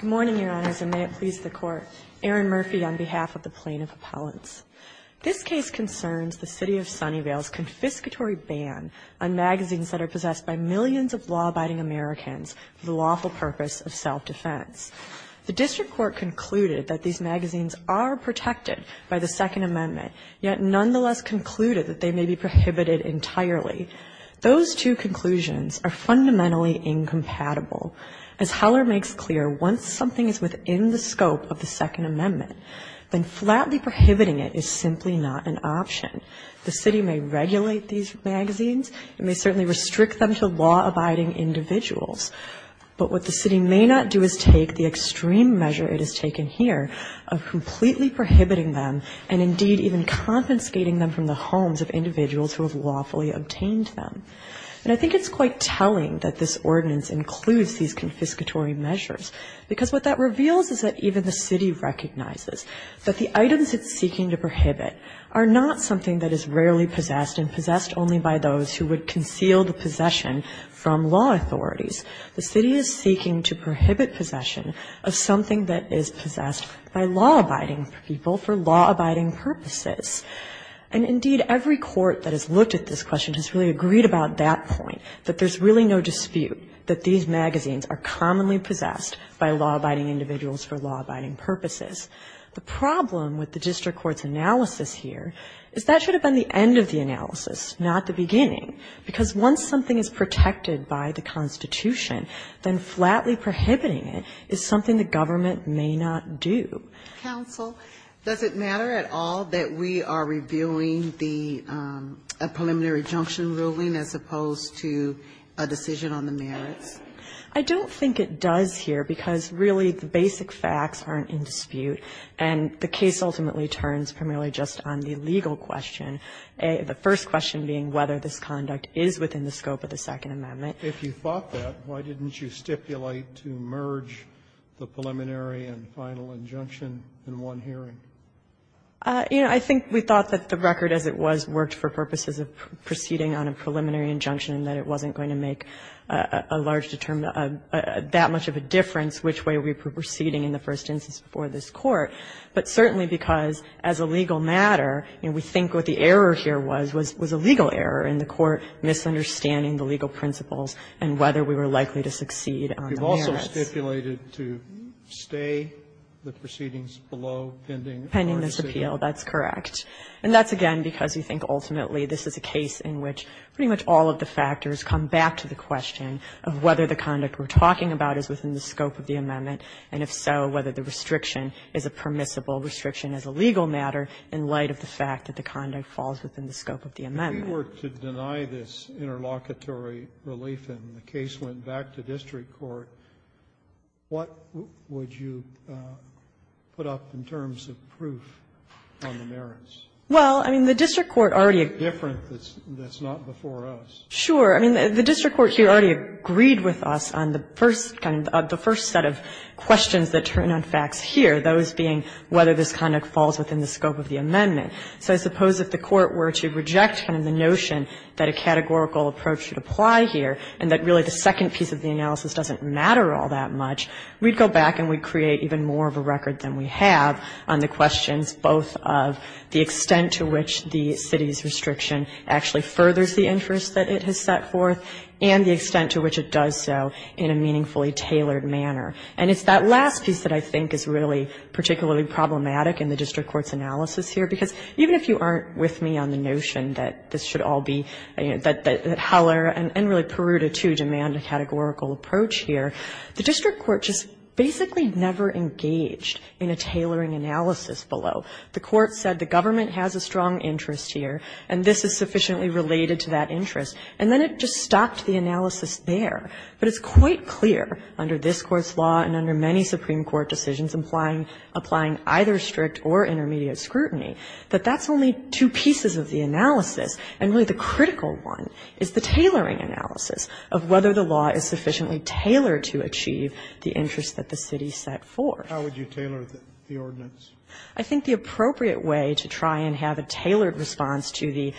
Good morning, Your Honors, and may it please the Court. Erin Murphy on behalf of the Plaintiff Appellants. This case concerns the City of Sunnyvale's confiscatory ban on magazines that are possessed by millions of law-abiding Americans for the lawful purpose of self-defense. The District Court concluded that these magazines are protected by the Second Amendment, yet nonetheless concluded that they may be prohibited entirely. Those two conclusions are fundamentally incompatible. As Heller makes clear, once something is within the scope of the Second Amendment, then flatly prohibiting it is simply not an option. The City may regulate these magazines. It may certainly restrict them to law-abiding individuals. But what the City may not do is take the extreme measure it has taken here of completely prohibiting them and, indeed, even compensating them from the homes of individuals who have lawfully obtained them. And I think it's quite telling that this ordinance includes these confiscatory measures, because what that reveals is that even the City recognizes that the items it's seeking to prohibit are not something that is rarely possessed and possessed only by those who would conceal the possession from law authorities. The City is seeking to prohibit possession of something that is possessed by law-abiding people for law-abiding purposes. And, indeed, every court that has looked at this question has really agreed about that point, that there's really no dispute that these magazines are commonly possessed by law-abiding individuals for law-abiding purposes. The problem with the District Court's analysis here is that should have been the end of the analysis, not the beginning, because once something is protected by the Constitution, then flatly prohibiting it is something the government may not do. Sotomayor, I have a question for you, counsel. Does it matter at all that we are reviewing the preliminary injunction ruling as opposed to a decision on the merits? I don't think it does here, because, really, the basic facts aren't in dispute, and the case ultimately turns primarily just on the legal question, the first question being whether this conduct is within the scope of the Second Amendment. If you thought that, why didn't you stipulate to merge the preliminary and final injunction in one hearing? You know, I think we thought that the record as it was worked for purposes of proceeding on a preliminary injunction, and that it wasn't going to make a large determinant of that much of a difference which way we were proceeding in the first instance before this Court. But certainly because, as a legal matter, we think what the error here was, was a legal error in the Court misunderstanding the legal principles and whether we were likely to succeed on the merits. We've also stipulated to stay the proceedings below pending the court's appeal. Pending this appeal, that's correct. And that's, again, because we think ultimately this is a case in which pretty much all of the factors come back to the question of whether the conduct we're talking about is within the scope of the amendment, and if so, whether the restriction is a permissible restriction as a legal matter in light of the fact that the conduct falls within the scope of the amendment. Kennedy, if you were to deny this interlocutory relief and the case went back to district court, what would you put up in terms of proof on the merits? Well, I mean, the district court already agreed. It's different. That's not before us. Sure. I mean, the district court here already agreed with us on the first kind of the first set of questions that turn on facts here, those being whether this conduct falls within the scope of the amendment. So I suppose if the court were to reject kind of the notion that a categorical approach would apply here and that really the second piece of the analysis doesn't matter all that much, we'd go back and we'd create even more of a record than we have on the questions both of the extent to which the city's restriction actually furthers the interest that it has set forth and the extent to which it does so in a meaningfully tailored manner. And it's that last piece that I think is really particularly problematic in the district court's analysis here, because even if you aren't with me on the notion that this should all be, that Heller and really Peruta, too, demand a categorical approach here, the district court just basically never engaged in a tailoring analysis below. The court said the government has a strong interest here and this is sufficiently related to that interest, and then it just stopped the analysis there. But it's quite clear under this Court's law and under many Supreme Court decisions implying either strict or intermediate scrutiny that that's only two pieces of the analysis, and really the critical one is the tailoring analysis of whether the law is sufficiently tailored to achieve the interest that the city set forth. Kennedy, I think the appropriate way to try and have a tailored response to the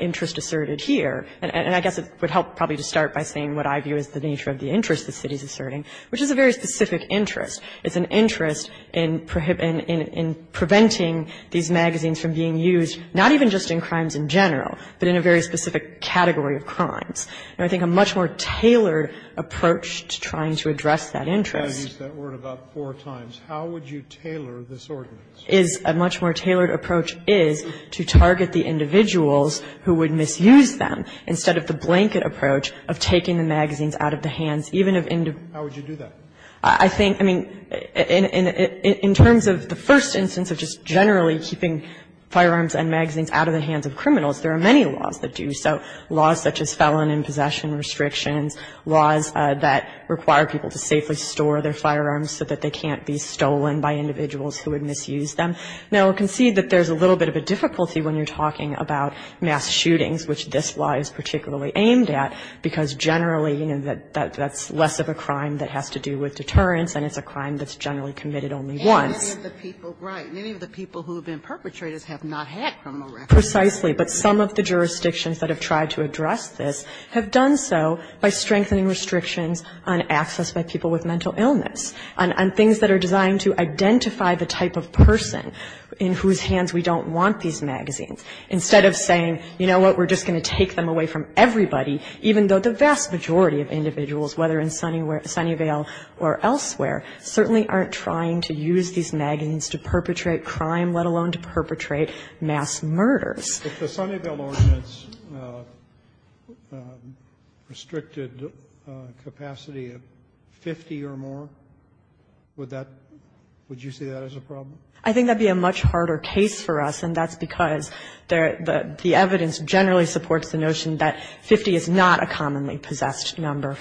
interest asserted here, and I guess it would help probably to start by saying what I view as the nature of the interest the city is asserting, which is a very specific interest. It's an interest in preventing these magazines from being used, not even just in crimes in general, but in a very specific category of crimes. And I think a much more tailored approach to trying to address that interest is a much more tailored approach is to target the individuals who would misuse them, instead of the blanket approach of taking the magazines out of the hands, even if individuals. I think, I mean, in terms of the first instance of just generally keeping firearms and magazines out of the hands of criminals, there are many laws that do so, laws such as felon in possession restrictions, laws that require people to safely store their firearms so that they can't be stolen by individuals who would misuse them. Now, I concede that there's a little bit of a difficulty when you're talking about mass shootings, which this law is particularly aimed at, because generally, you know, that's less of a crime that has to do with deterrence, and it's a crime that's generally committed only once. Sotomayor, many of the people who have been perpetrators have not had criminal records. Precisely. But some of the jurisdictions that have tried to address this have done so by strengthening restrictions on access by people with mental illness, on things that are designed to identify the type of person in whose hands we don't want these magazines, instead of saying, you know what, we're just going to take them away from everybody, even though the vast majority of individuals, whether in Sunnyvale or elsewhere, certainly aren't trying to use these magazines to perpetrate crime, let alone to perpetrate mass murders. If the Sunnyvale ordinance restricted capacity of 50 or more, would that be a problem? I think that would be a much harder case for us, and that's because the evidence generally supports the notion that 50 is not a commonly possessed number.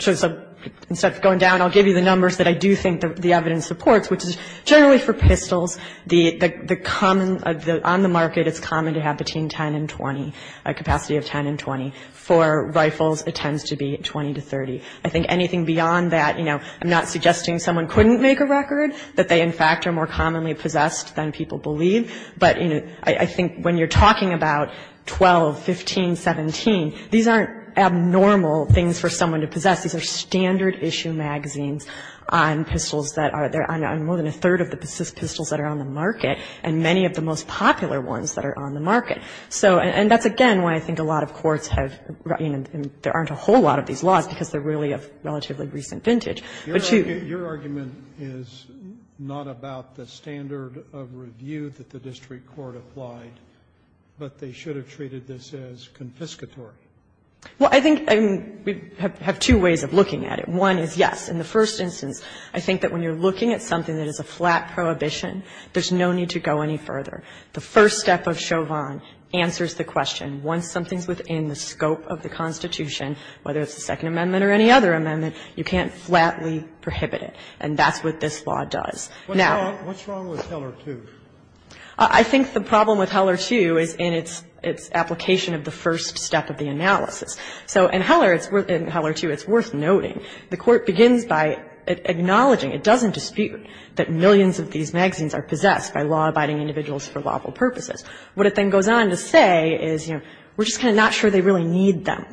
So instead of going down, I'll give you the numbers that I do think the evidence supports, which is generally for pistols, the common, on the market, it's common to have between 10 and 20, a capacity of 10 and 20. For rifles, it tends to be 20 to 30. I think anything beyond that, you know, I'm not suggesting someone couldn't make a record, that they, in fact, are more commonly possessed than people believe. But, you know, I think when you're talking about 12, 15, 17, these aren't abnormal things for someone to possess. These are standard issue magazines on pistols that are there, on more than a third of the pistols that are on the market, and many of the most popular ones that are on the market. So, and that's, again, why I think a lot of courts have, you know, there aren't a whole lot of these laws, because they're really of relatively recent vintage. But to your argument is not about the standard of review that the Department of Justice and the district court applied, but they should have treated this as confiscatory. Well, I think we have two ways of looking at it. One is, yes, in the first instance, I think that when you're looking at something that is a flat prohibition, there's no need to go any further. The first step of Chauvin answers the question. Once something's within the scope of the Constitution, whether it's the Second Amendment or any other amendment, you can't flatly prohibit it. And that's what this law does. Now what's wrong with Teller II? I think the problem with Teller II is in its application of the first step of the analysis. So in Teller II, it's worth noting, the court begins by acknowledging, it doesn't dispute, that millions of these magazines are possessed by law-abiding individuals for lawful purposes. What it then goes on to say is, you know, we're just kind of not sure they really need them.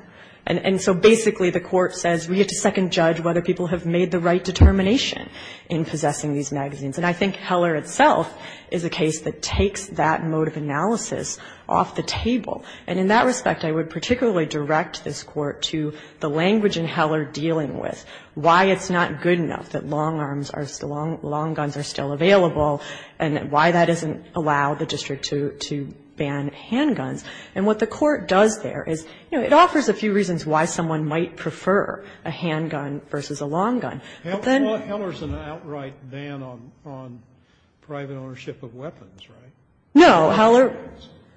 And so basically, the court says, we get to second judge whether people have made the right determination in possessing these magazines. And I think Teller itself is a case that takes that mode of analysis off the table. And in that respect, I would particularly direct this Court to the language in Teller dealing with why it's not good enough that long arms are still long guns are still available, and why that doesn't allow the district to ban handguns. And what the Court does there is, you know, it offers a few reasons why someone might prefer a handgun versus a long gun. Then hell, there's an outright ban on private ownership of weapons, right? No.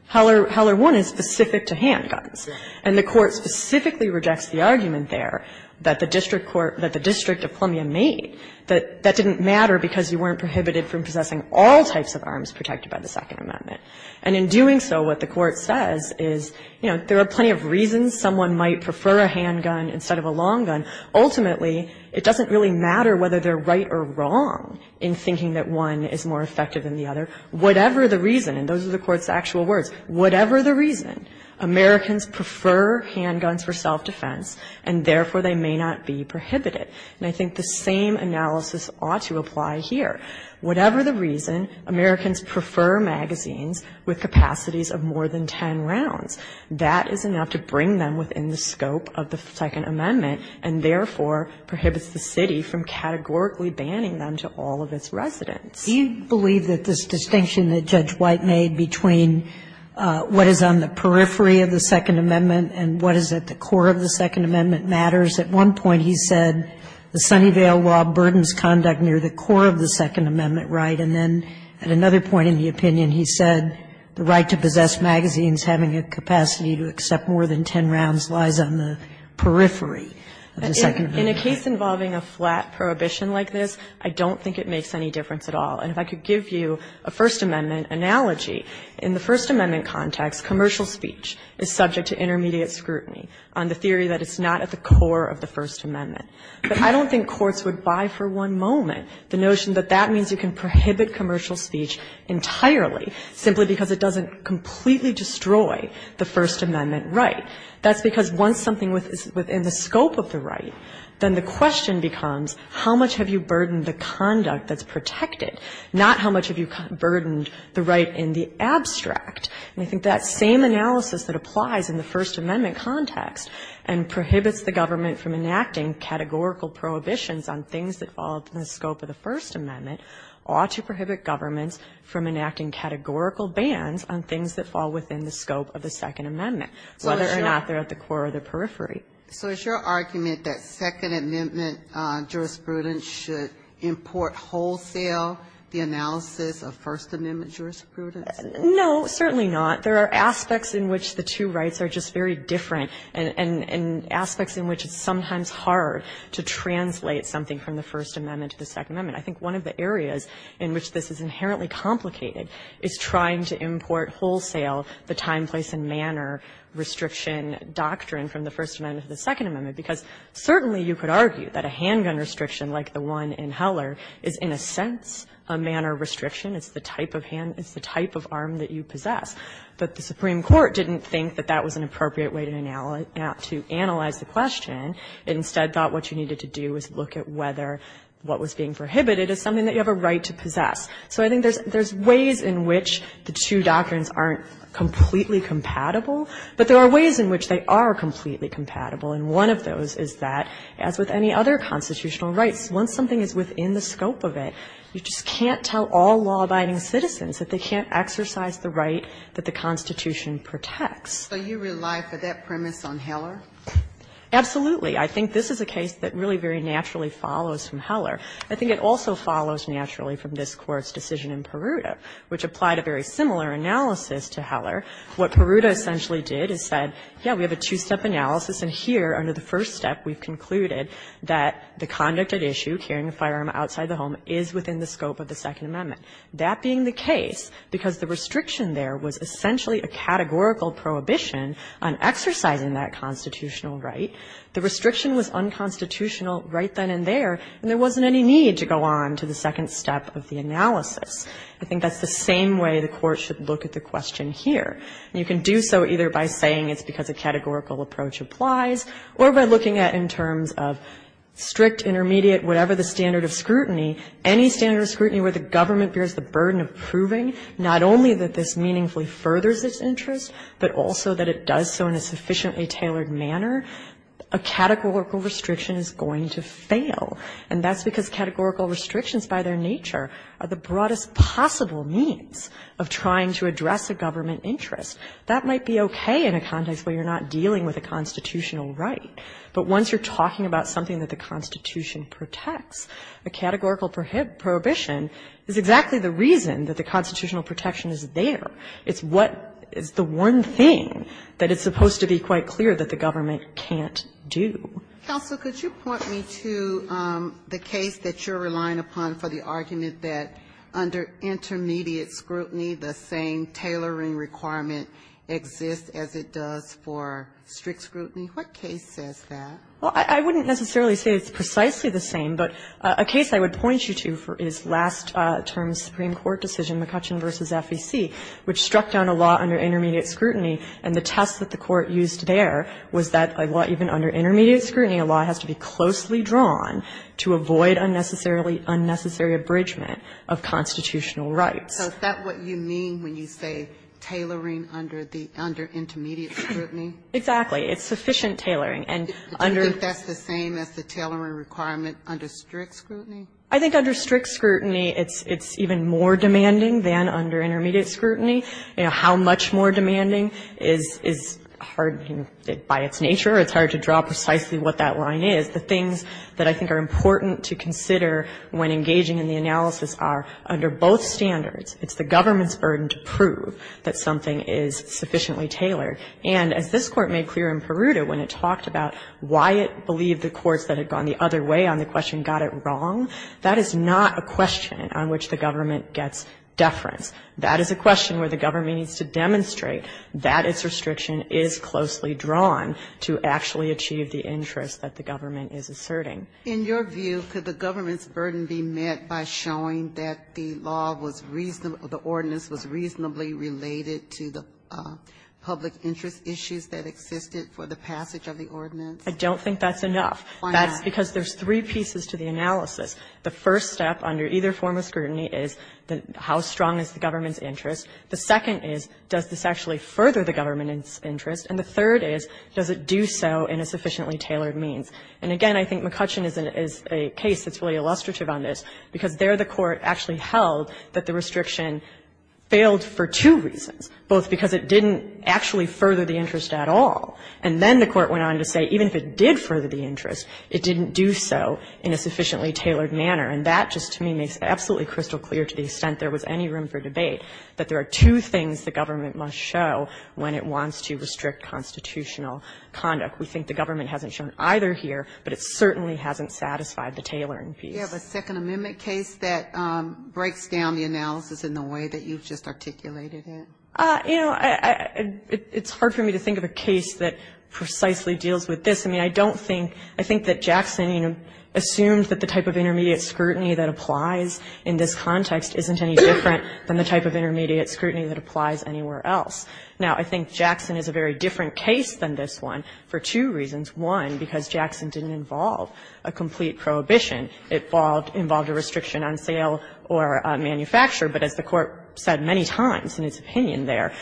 Teller I is specific to handguns. And the Court specifically rejects the argument there that the district court, that the district of Plumya made, that that didn't matter because you weren't prohibited from possessing all types of arms protected by the Second Amendment. And in doing so, what the Court says is, you know, there are plenty of reasons someone might prefer a handgun instead of a long gun. Ultimately, it doesn't really matter whether they're right or wrong in thinking that one is more effective than the other. Whatever the reason, and those are the Court's actual words, whatever the reason, Americans prefer handguns for self-defense, and therefore they may not be prohibited. And I think the same analysis ought to apply here. Whatever the reason, Americans prefer magazines with capacities of more than ten rounds. That is enough to bring them within the scope of the Second Amendment, and therefore prohibits the city from categorically banning them to all of its residents. Do you believe that this distinction that Judge White made between what is on the periphery of the Second Amendment and what is at the core of the Second Amendment matters? At one point he said the Sunnyvale law burdens conduct near the core of the Second Amendment right, and then at another point in the opinion he said the right to possess magazines having a capacity to accept more than ten rounds lies on the periphery of the Second Amendment. In a case involving a flat prohibition like this, I don't think it makes any difference at all. And if I could give you a First Amendment analogy, in the First Amendment context, commercial speech is subject to intermediate scrutiny on the theory that it's not at the core of the First Amendment. But I don't think courts would buy for one moment the notion that that means you can completely destroy the First Amendment right. That's because once something is within the scope of the right, then the question becomes how much have you burdened the conduct that's protected, not how much have you burdened the right in the abstract. And I think that same analysis that applies in the First Amendment context and prohibits the government from enacting categorical prohibitions on things that fall within the scope of the First Amendment ought to prohibit governments from enacting categorical bans on things that fall within the scope of the Second Amendment, whether or not they're at the core or the periphery. Ginsburg. So is your argument that Second Amendment jurisprudence should import wholesale the analysis of First Amendment jurisprudence? No, certainly not. There are aspects in which the two rights are just very different, and aspects in which it's sometimes hard to translate something from the First Amendment to the Second Amendment. I think one of the areas in which this is inherently complicated is trying to import wholesale the time, place, and manner restriction doctrine from the First Amendment to the Second Amendment, because certainly you could argue that a handgun restriction like the one in Heller is, in a sense, a manner restriction. It's the type of hand, it's the type of arm that you possess. But the Supreme Court didn't think that that was an appropriate way to analyze the question. It instead thought what you needed to do was look at whether what was being prohibited is something that you have a right to possess. So I think there's ways in which the two doctrines aren't completely compatible, but there are ways in which they are completely compatible. And one of those is that, as with any other constitutional rights, once something is within the scope of it, you just can't tell all law-abiding citizens that they can't exercise the right that the Constitution protects. So you rely for that premise on Heller? Absolutely. I think this is a case that really very naturally follows from Heller. I think it also follows naturally from this Court's decision in Peruta, which applied a very similar analysis to Heller. What Peruta essentially did is said, yes, we have a two-step analysis, and here, under the first step, we've concluded that the conduct at issue, carrying a firearm outside the home, is within the scope of the Second Amendment. That being the case, because the restriction there was essentially a categorical prohibition on exercising that constitutional right, the restriction was unconstitutional right then and there, and there wasn't any need to go on to the second step of the analysis. I think that's the same way the Court should look at the question here. You can do so either by saying it's because a categorical approach applies, or by looking at in terms of strict, intermediate, whatever the standard of scrutiny, any standard of scrutiny where the government bears the burden of proving not only that this meaningfully furthers its interest, but also that it does so in a sufficiently tailored manner, a categorical restriction is going to fail. And that's because categorical restrictions, by their nature, are the broadest possible means of trying to address a government interest. That might be okay in a context where you're not dealing with a constitutional right, but once you're talking about something that the Constitution protects, a categorical prohibition is exactly the reason that the constitutional protection is there. It's what is the one thing that is supposed to be quite clear that the government can't do. Ginsburg, could you point me to the case that you're relying upon for the argument that under intermediate scrutiny, the same tailoring requirement exists as it does for strict scrutiny? What case says that? Well, I wouldn't necessarily say it's precisely the same, but a case I would point you to is last term's Supreme Court decision, McCutcheon v. FEC, which struck down a law under intermediate scrutiny, and the test that the Court used there was that even under intermediate scrutiny, a law has to be closely drawn to avoid unnecessary abridgment of constitutional rights. So is that what you mean when you say tailoring under the under intermediate scrutiny? Exactly. It's sufficient tailoring. And under the Do you think that's the same as the tailoring requirement under strict scrutiny? I think under strict scrutiny, it's even more demanding than under intermediate scrutiny. You know, how much more demanding is hard, by its nature, it's hard to draw precisely what that line is. The things that I think are important to consider when engaging in the analysis are, under both standards, it's the government's burden to prove that something is sufficiently tailored. And as this Court made clear in Peruta when it talked about why it believed the courts that had gone the other way on the question got it wrong, that is not a question on which the government gets deference. That is a question where the government needs to demonstrate that its restriction is closely drawn to actually achieve the interest that the government is asserting. In your view, could the government's burden be met by showing that the law was reasonable or the ordinance was reasonably related to the public interest issues that existed for the passage of the ordinance? I don't think that's enough. That's because there's three pieces to the analysis. The first step under either form of scrutiny is how strong is the government's interest. The second is, does this actually further the government's interest? And the third is, does it do so in a sufficiently tailored means? And again, I think McCutcheon is a case that's really illustrative on this, because there the Court actually held that the restriction failed for two reasons, both because it didn't actually further the interest at all. And then the Court went on to say even if it did further the interest, it didn't do so in a sufficiently tailored manner. And that just to me makes absolutely crystal clear to the extent there was any room for debate, that there are two things the government must show when it wants to restrict constitutional conduct. We think the government hasn't shown either here, but it certainly hasn't satisfied the tailoring piece. You have a Second Amendment case that breaks down the analysis in the way that you've just articulated it? You know, it's hard for me to think of a case that precisely deals with this. I mean, I don't think, I think that Jackson, you know, assumed that the type of intermediate scrutiny that applies in this context isn't any different than the type of intermediate scrutiny that applies anywhere else. Now, I think Jackson is a very different case than this one for two reasons. One, because Jackson didn't involve a complete prohibition. It involved a restriction on sale or on manufacture, but as the Court said many times in its opinion there,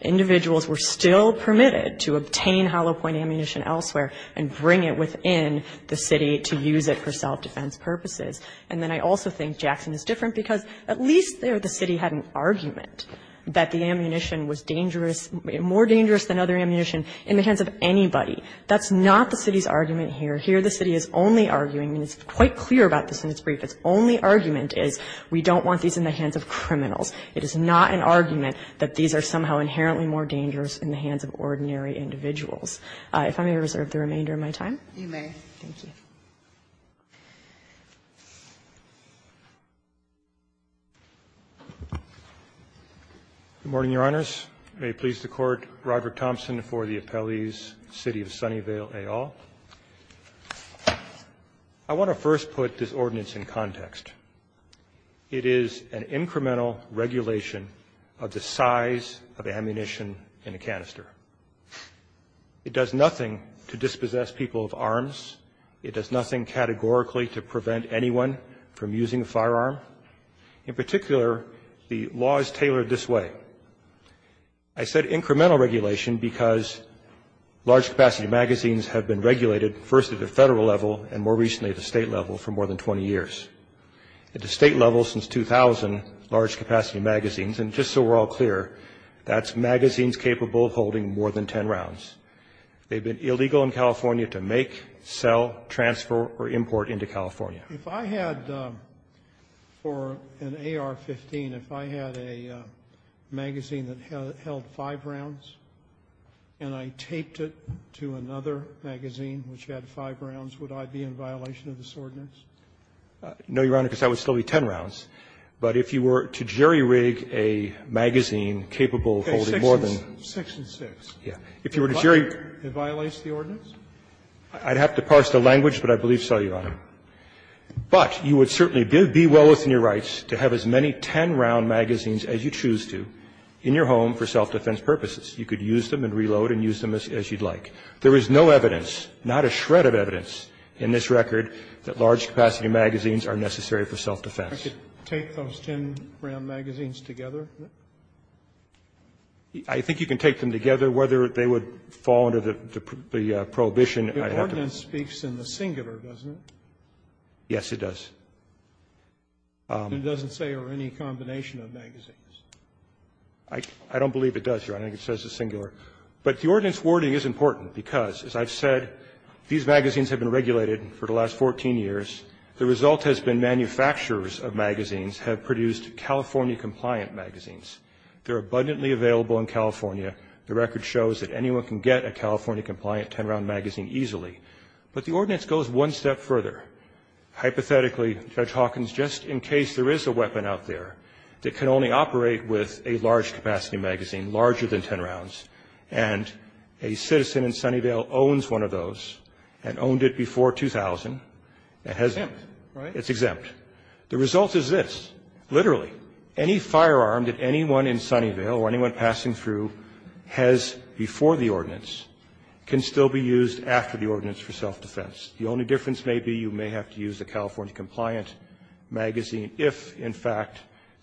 individuals were still permitted to obtain hollow point ammunition elsewhere and bring it within the city to use it for self-defense purposes. And then I also think Jackson is different because at least there the city had an argument that the ammunition was dangerous, more dangerous than other ammunition in the hands of anybody. That's not the city's argument here. Here the city is only arguing, and it's quite clear about this in its brief, its only argument is we don't want these in the hands of criminals. It is not an argument that these are somehow inherently more dangerous in the hands of ordinary individuals. If I may reserve the remainder of my time. Ginsburg-Cassidy, you may. Thank you. Good morning, Your Honors. May it please the Court, Robert Thompson for the appellees, City of Sunnyvale et al. I want to first put this ordinance in context. It is an incremental regulation of the size of ammunition in a canister. It does nothing to dispossess people of arms. It does nothing categorically to prevent anyone from using a firearm. In particular, the law is tailored this way. I said incremental regulation because large capacity magazines have been regulated first at the federal level and more recently at the state level for more than 20 years. At the state level since 2000, large capacity magazines, and just so we're all clear, that's magazines capable of holding more than 10 rounds. They've been illegal in California to make, sell, transfer, or import into California. If I had for an AR-15, if I had a magazine that held five rounds and I taped it to another magazine which had five rounds, would I be in violation of this ordinance? No, Your Honor, because that would still be 10 rounds. But if you were to jerry-rig a magazine capable of holding more than one. Scalia, Section 6. Yeah. If you were to jerry-rig. It violates the ordinance? I'd have to parse the language, but I believe so, Your Honor. But you would certainly be well within your rights to have as many 10-round magazines as you choose to in your home for self-defense purposes. You could use them and reload and use them as you'd like. There is no evidence, not a shred of evidence, in this record that large-capacity magazines are necessary for self-defense. I could take those 10-round magazines together? I think you can take them together. Whether they would fall under the prohibition, I don't know. The ordinance speaks in the singular, doesn't it? Yes, it does. It doesn't say or any combination of magazines. I don't believe it does, Your Honor. It says the singular. But the ordinance wording is important because, as I've said, these magazines have been regulated for the last 14 years. The result has been manufacturers of magazines have produced California-compliant magazines. They're abundantly available in California. The record shows that anyone can get a California-compliant 10-round magazine easily. But the ordinance goes one step further. Hypothetically, Judge Hawkins, just in case there is a weapon out there that can only operate with a large-capacity magazine, larger than 10 rounds, and a citizen in Sunnyvale owns one of those and owned it before 2000, it has been exempt. Exempt, right? It's exempt. The result is this. Literally, any firearm that anyone in Sunnyvale or anyone passing through has before the ordinance can still be used after the ordinance for self-defense. The only difference may be you may have to use a California-compliant magazine if, in fact,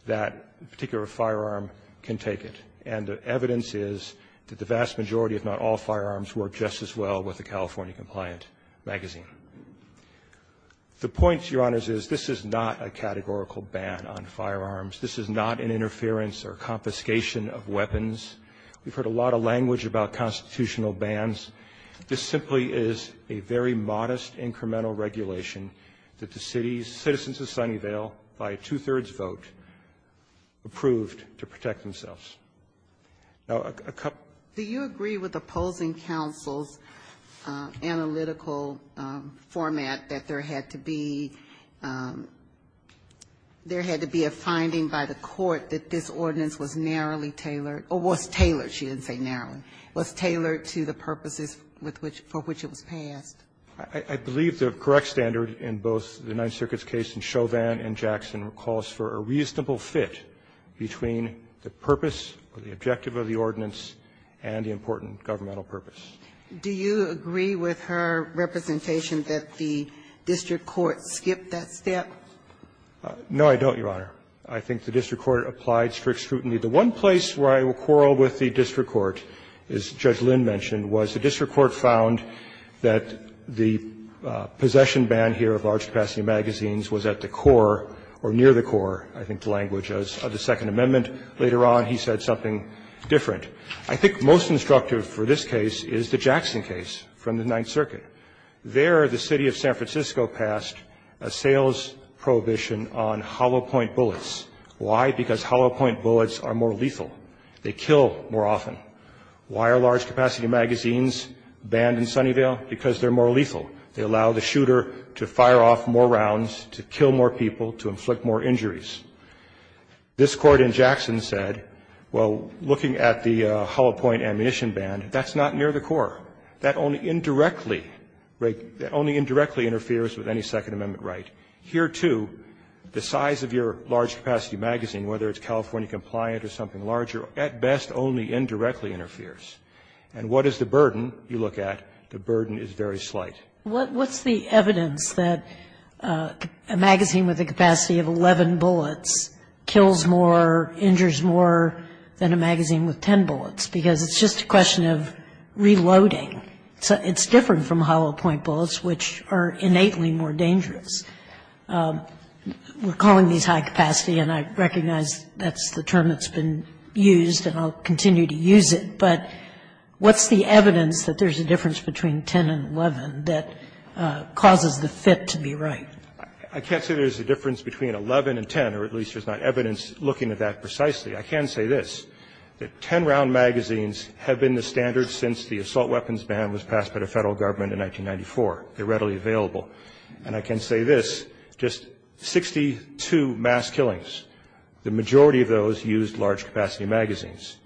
that particular firearm can take it. And the evidence is that the vast majority, if not all, firearms work just as well with a California-compliant magazine. The point, Your Honors, is this is not a categorical ban on firearms. This is not an interference or confiscation of weapons. We've heard a lot of language about constitutional bans. This simply is a very modest, incremental regulation that the city's citizens of California, by a two-thirds vote, approved to protect themselves. Now, a couple of other things. Do you agree with opposing counsel's analytical format that there had to be a finding by the court that this ordinance was narrowly tailored, or was tailored, she didn't say narrowly, was tailored to the purposes for which it was passed? I believe the correct standard in both the Ninth Circuit's case in Chauvin and Jackson calls for a reasonable fit between the purpose or the objective of the ordinance and the important governmental purpose. Do you agree with her representation that the district court skipped that step? No, I don't, Your Honor. I think the district court applied strict scrutiny. The one place where I will quarrel with the district court, as Judge Lynn mentioned, was the district court found that the possession ban here of large-capacity magazines was at the core, or near the core, I think the language of the Second Amendment. Later on, he said something different. I think most instructive for this case is the Jackson case from the Ninth Circuit. There, the city of San Francisco passed a sales prohibition on hollow-point bullets. Why? Because hollow-point bullets are more lethal. They kill more often. Why are large-capacity magazines banned in Sunnyvale? Because they're more lethal. They allow the shooter to fire off more rounds, to kill more people, to inflict more injuries. This Court in Jackson said, well, looking at the hollow-point ammunition ban, that's not near the core. That only indirectly, that only indirectly interferes with any Second Amendment right. Here, too, the size of your large-capacity magazine, whether it's California compliant or something larger, at best only indirectly interferes. And what is the burden? You look at, the burden is very slight. What's the evidence that a magazine with a capacity of 11 bullets kills more, injures more than a magazine with 10 bullets? Because it's just a question of reloading. It's different from hollow-point bullets, which are innately more dangerous. We're calling these high-capacity, and I recognize that's the term that's been used, and I'll continue to use it. But what's the evidence that there's a difference between 10 and 11 that causes the fit to be right? I can't say there's a difference between 11 and 10, or at least there's not evidence looking at that precisely. I can say this, that 10-round magazines have been the standard since the assault weapons ban was passed by the Federal Government in 1994. They're readily available. And I can say this, just 62 mass killings, the majority of those used large-capacity magazines.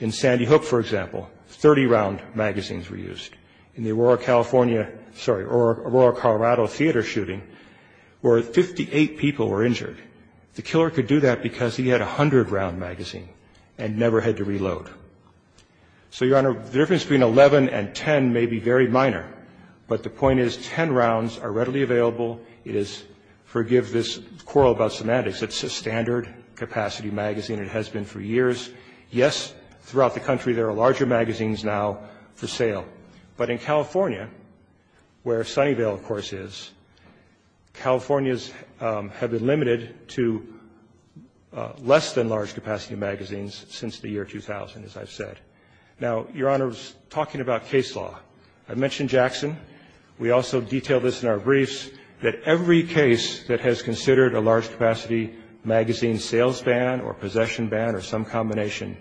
In Sandy Hook, for example, 30-round magazines were used. In the Aurora, California – sorry, Aurora, Colorado, theater shooting, where 58 people were injured, the killer could do that because he had a 100-round magazine and never had to reload. So, Your Honor, the difference between 11 and 10 may be very minor, but the point is 10 rounds are readily available. It is – forgive this quarrel about semantics – it's a standard-capacity magazine. It has been for years. Yes, throughout the country there are larger magazines now for sale. But in California, where Sunnyvale, of course, is, Californias have been limited to less-than-large-capacity magazines since the year 2000, as I've said. Now, Your Honor, talking about case law, I mentioned Jackson. We also detailed this in our briefs, that every case that has considered a large-capacity magazine sales ban or possession ban or some combination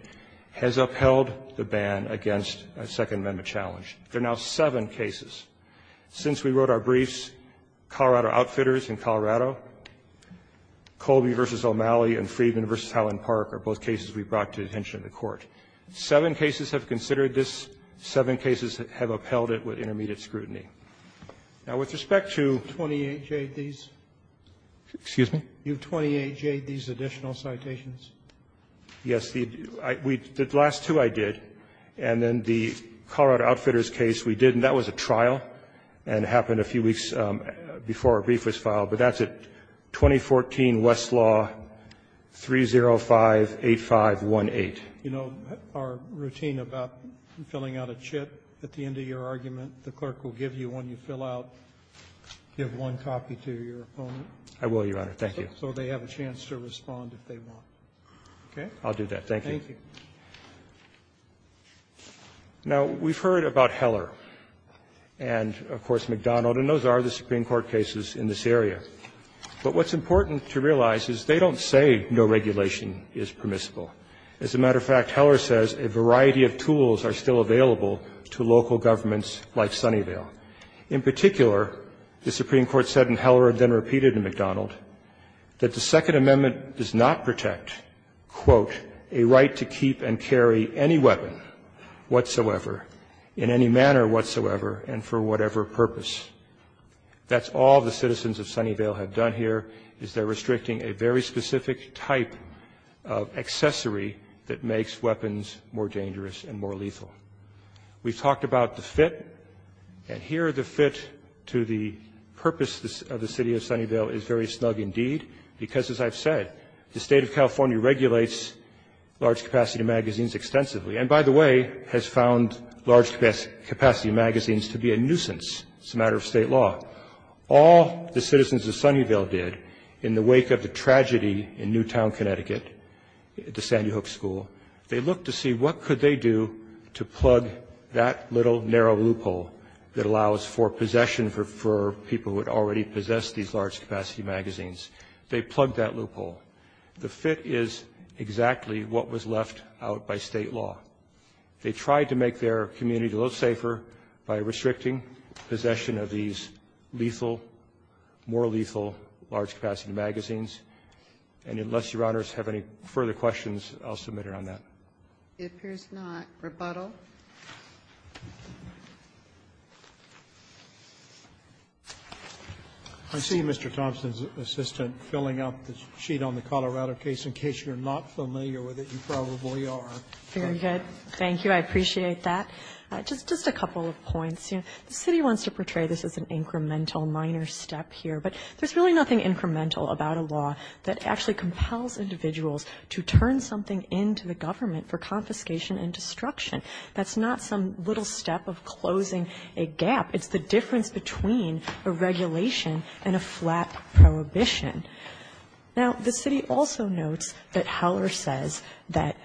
has upheld the ban against a Second Amendment challenge. There are now seven cases. Since we wrote our briefs, Colorado Outfitters in Colorado, Colby v. O'Malley and Friedman v. Howland Park are both cases we brought to the attention of the Court. Seven cases have considered this. Seven cases have upheld it with intermediate scrutiny. Now, with respect to 28 J.D.s, excuse me? You have 28 J.D.s, additional citations? Yes. The last two I did, and then the Colorado Outfitters case we did, and that was a trial and happened a few weeks before our brief was filed. But that's at 2014 Westlaw 3058518. You know our routine about filling out a chip at the end of your argument, the clerk will give you one, you fill out, give one copy to your opponent? I will, Your Honor. Thank you. So they have a chance to respond if they want. Okay. I'll do that. Thank you. Thank you. Now, we've heard about Heller and, of course, McDonald, and those are the Supreme Court cases in this area. But what's important to realize is they don't say no regulation is permissible. As a matter of fact, Heller says a variety of tools are still available to local governments like Sunnyvale. In particular, the Supreme Court said in Heller and then repeated in McDonald that the Second Amendment does not protect, quote, a right to keep and carry any weapon whatsoever in any manner whatsoever and for whatever purpose. That's all the citizens of Sunnyvale have done here is they're restricting a very specific type of accessory that makes weapons more dangerous and more lethal. We've talked about the fit. And here, the fit to the purpose of the city of Sunnyvale is very snug indeed because, as I've said, the state of California regulates large capacity magazines extensively. And by the way, has found large capacity magazines to be a nuisance as a matter of state law. All the citizens of Sunnyvale did in the wake of the tragedy in Newtown, Connecticut, the Sandy Hook School, they looked to see what could they do to plug that little narrow loophole that allows for possession for people who had already possessed these large capacity magazines. They plugged that loophole. The fit is exactly what was left out by state law. They tried to make their community a little safer by restricting possession of these lethal, more lethal, large capacity magazines. And unless your honors have any further questions, I'll submit it on that. It appears not. Rebuttal. I see Mr. Thompson's assistant filling up the sheet on the Colorado case. In case you're not familiar with it, you probably are. Very good. Thank you. I appreciate that. Just a couple of points. The city wants to portray this as an incremental minor step here. But there's really nothing incremental about a law that actually compels individuals to turn something into the government for confiscation and destruction. That's not some little step of closing a gap. It's the difference between a regulation and a flat prohibition. Now, the city also notes that Heller says that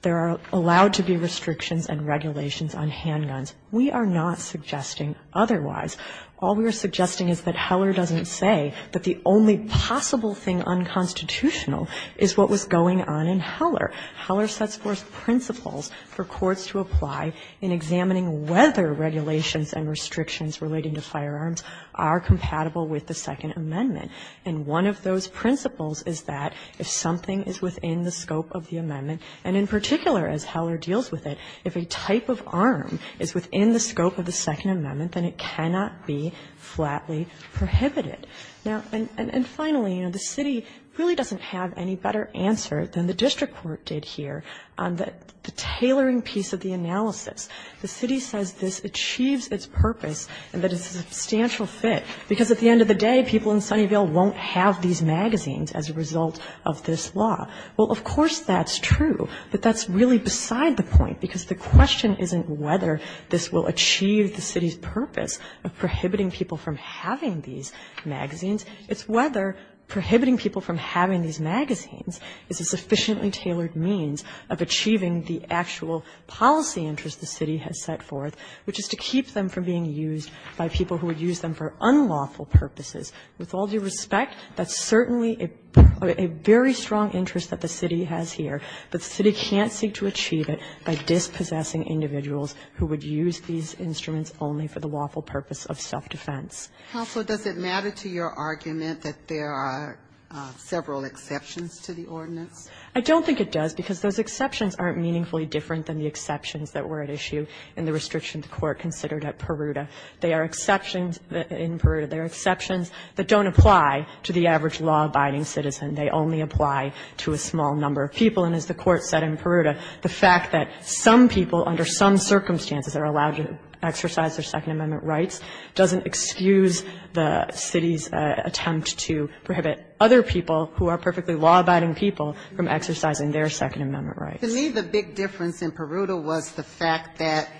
there are allowed to be restrictions and regulations on handguns. We are not suggesting otherwise. All we are suggesting is that Heller doesn't say that the only possible thing that is unconstitutional is what was going on in Heller. Heller sets forth principles for courts to apply in examining whether regulations and restrictions relating to firearms are compatible with the Second Amendment. And one of those principles is that if something is within the scope of the amendment, and in particular, as Heller deals with it, if a type of arm is within the scope of the Second Amendment, then it cannot be flatly prohibited. Now, and finally, you know, the city really doesn't have any better answer than the district court did here on the tailoring piece of the analysis. The city says this achieves its purpose and that it's a substantial fit, because at the end of the day, people in Sunnyvale won't have these magazines as a result of this law. Well, of course that's true, but that's really beside the point, because the question isn't whether this will achieve the city's purpose of prohibiting people from having these magazines. It's whether prohibiting people from having these magazines is a sufficiently tailored means of achieving the actual policy interest the city has set forth, which is to keep them from being used by people who would use them for unlawful purposes. With all due respect, that's certainly a very strong interest that the city has here, but the city can't seek to achieve it by dispossessing individuals who would use these instruments only for the lawful purpose of self-defense. Counsel, does it matter to your argument that there are several exceptions to the ordinance? I don't think it does, because those exceptions aren't meaningfully different than the exceptions that were at issue in the restriction the Court considered at Peruta. There are exceptions in Peruta. There are exceptions that don't apply to the average law-abiding citizen. They only apply to a small number of people. And as the Court said in Peruta, the fact that some people under some circumstances are allowed to exercise their Second Amendment rights doesn't excuse the city's attempt to prohibit other people who are perfectly law-abiding people from exercising their Second Amendment rights. To me, the big difference in Peruta was the fact that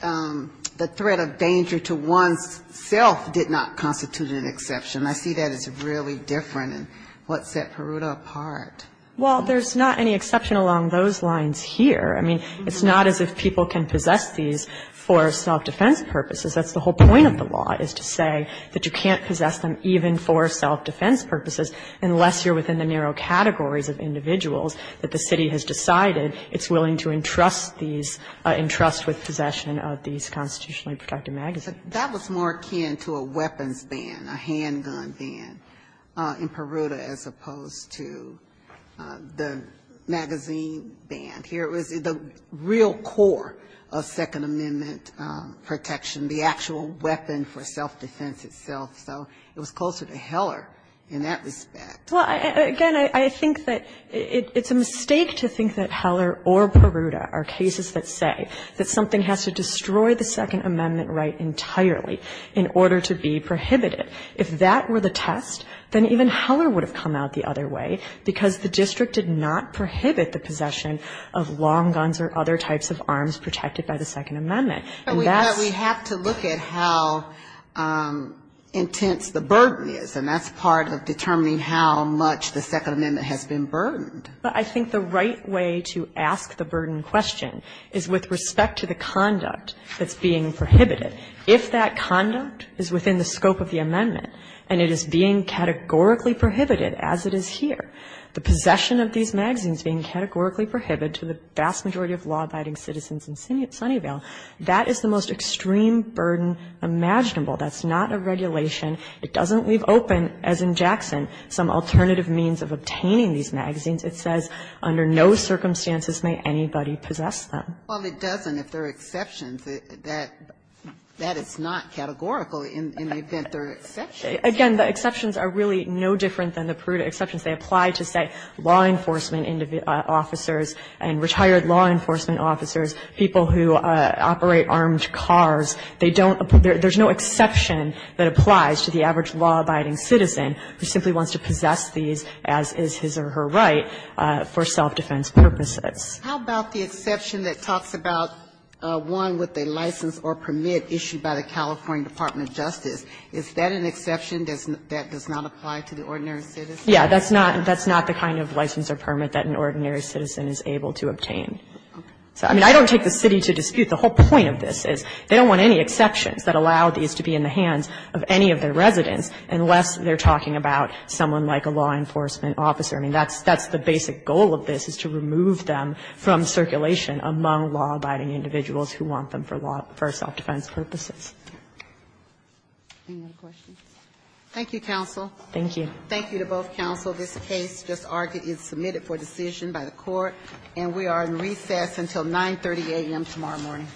the threat of danger to one's self did not constitute an exception. I see that as really different and what set Peruta apart. Well, there's not any exception along those lines here. I mean, it's not as if people can possess these for self-defense purposes. That's the whole point of the law, is to say that you can't possess them even for self-defense purposes unless you're within the narrow categories of individuals that the city has decided it's willing to entrust these, entrust with possession of these constitutionally protected magazines. That was more akin to a weapons ban, a handgun ban, in Peruta as opposed to the magazine ban. Here it was the real core of Second Amendment protection, the actual weapon for self-defense itself. So it was closer to Heller in that respect. Well, again, I think that it's a mistake to think that Heller or Peruta are cases that say that something has to destroy the Second Amendment right entirely in order to be prohibited. If that were the test, then even Heller would have come out the other way, because the district did not prohibit the possession of long guns or other types of arms protected by the Second Amendment. And that's the question. But we have to look at how intense the burden is, and that's part of determining how much the Second Amendment has been burdened. But I think the right way to ask the burden question is with respect to the conduct that's being prohibited. If that conduct is within the scope of the amendment, and it is being categorically prohibited, as it is here, the possession of these magazines being categorically prohibited to the vast majority of law-abiding citizens in Sunnyvale, that is the most extreme burden imaginable. That's not a regulation. It doesn't leave open, as in Jackson, some alternative means of obtaining these magazines. It says, under no circumstances may anybody possess them. Ginsburg-McGillivray, Jr.: Well, it doesn't if there are exceptions. That is not categorical in the event there are exceptions. Again, the exceptions are really no different than the prudent exceptions. They apply to, say, law enforcement officers and retired law enforcement officers, people who operate armed cars. They don't – there's no exception that applies to the average law-abiding citizen who simply wants to possess these, as is his or her right, for self-defense purposes. Ginsburg-McGillivray, Jr.: How about the exception that talks about one with a license or permit issued by the California Department of Justice? Is that an exception that does not apply to the ordinary citizen? Yeah, that's not the kind of license or permit that an ordinary citizen is able to obtain. So, I mean, I don't take the city to dispute the whole point of this, is they don't want any exceptions that allow these to be in the hands of any of their residents unless they're talking about someone like a law enforcement officer. I mean, that's the basic goal of this, is to remove them from circulation among law-abiding individuals who want them for self-defense purposes. Any other questions? Thank you, counsel. Thank you. Thank you to both counsel. This case just argued is submitted for decision by the Court, and we are in recess until 9.30 a.m. tomorrow morning.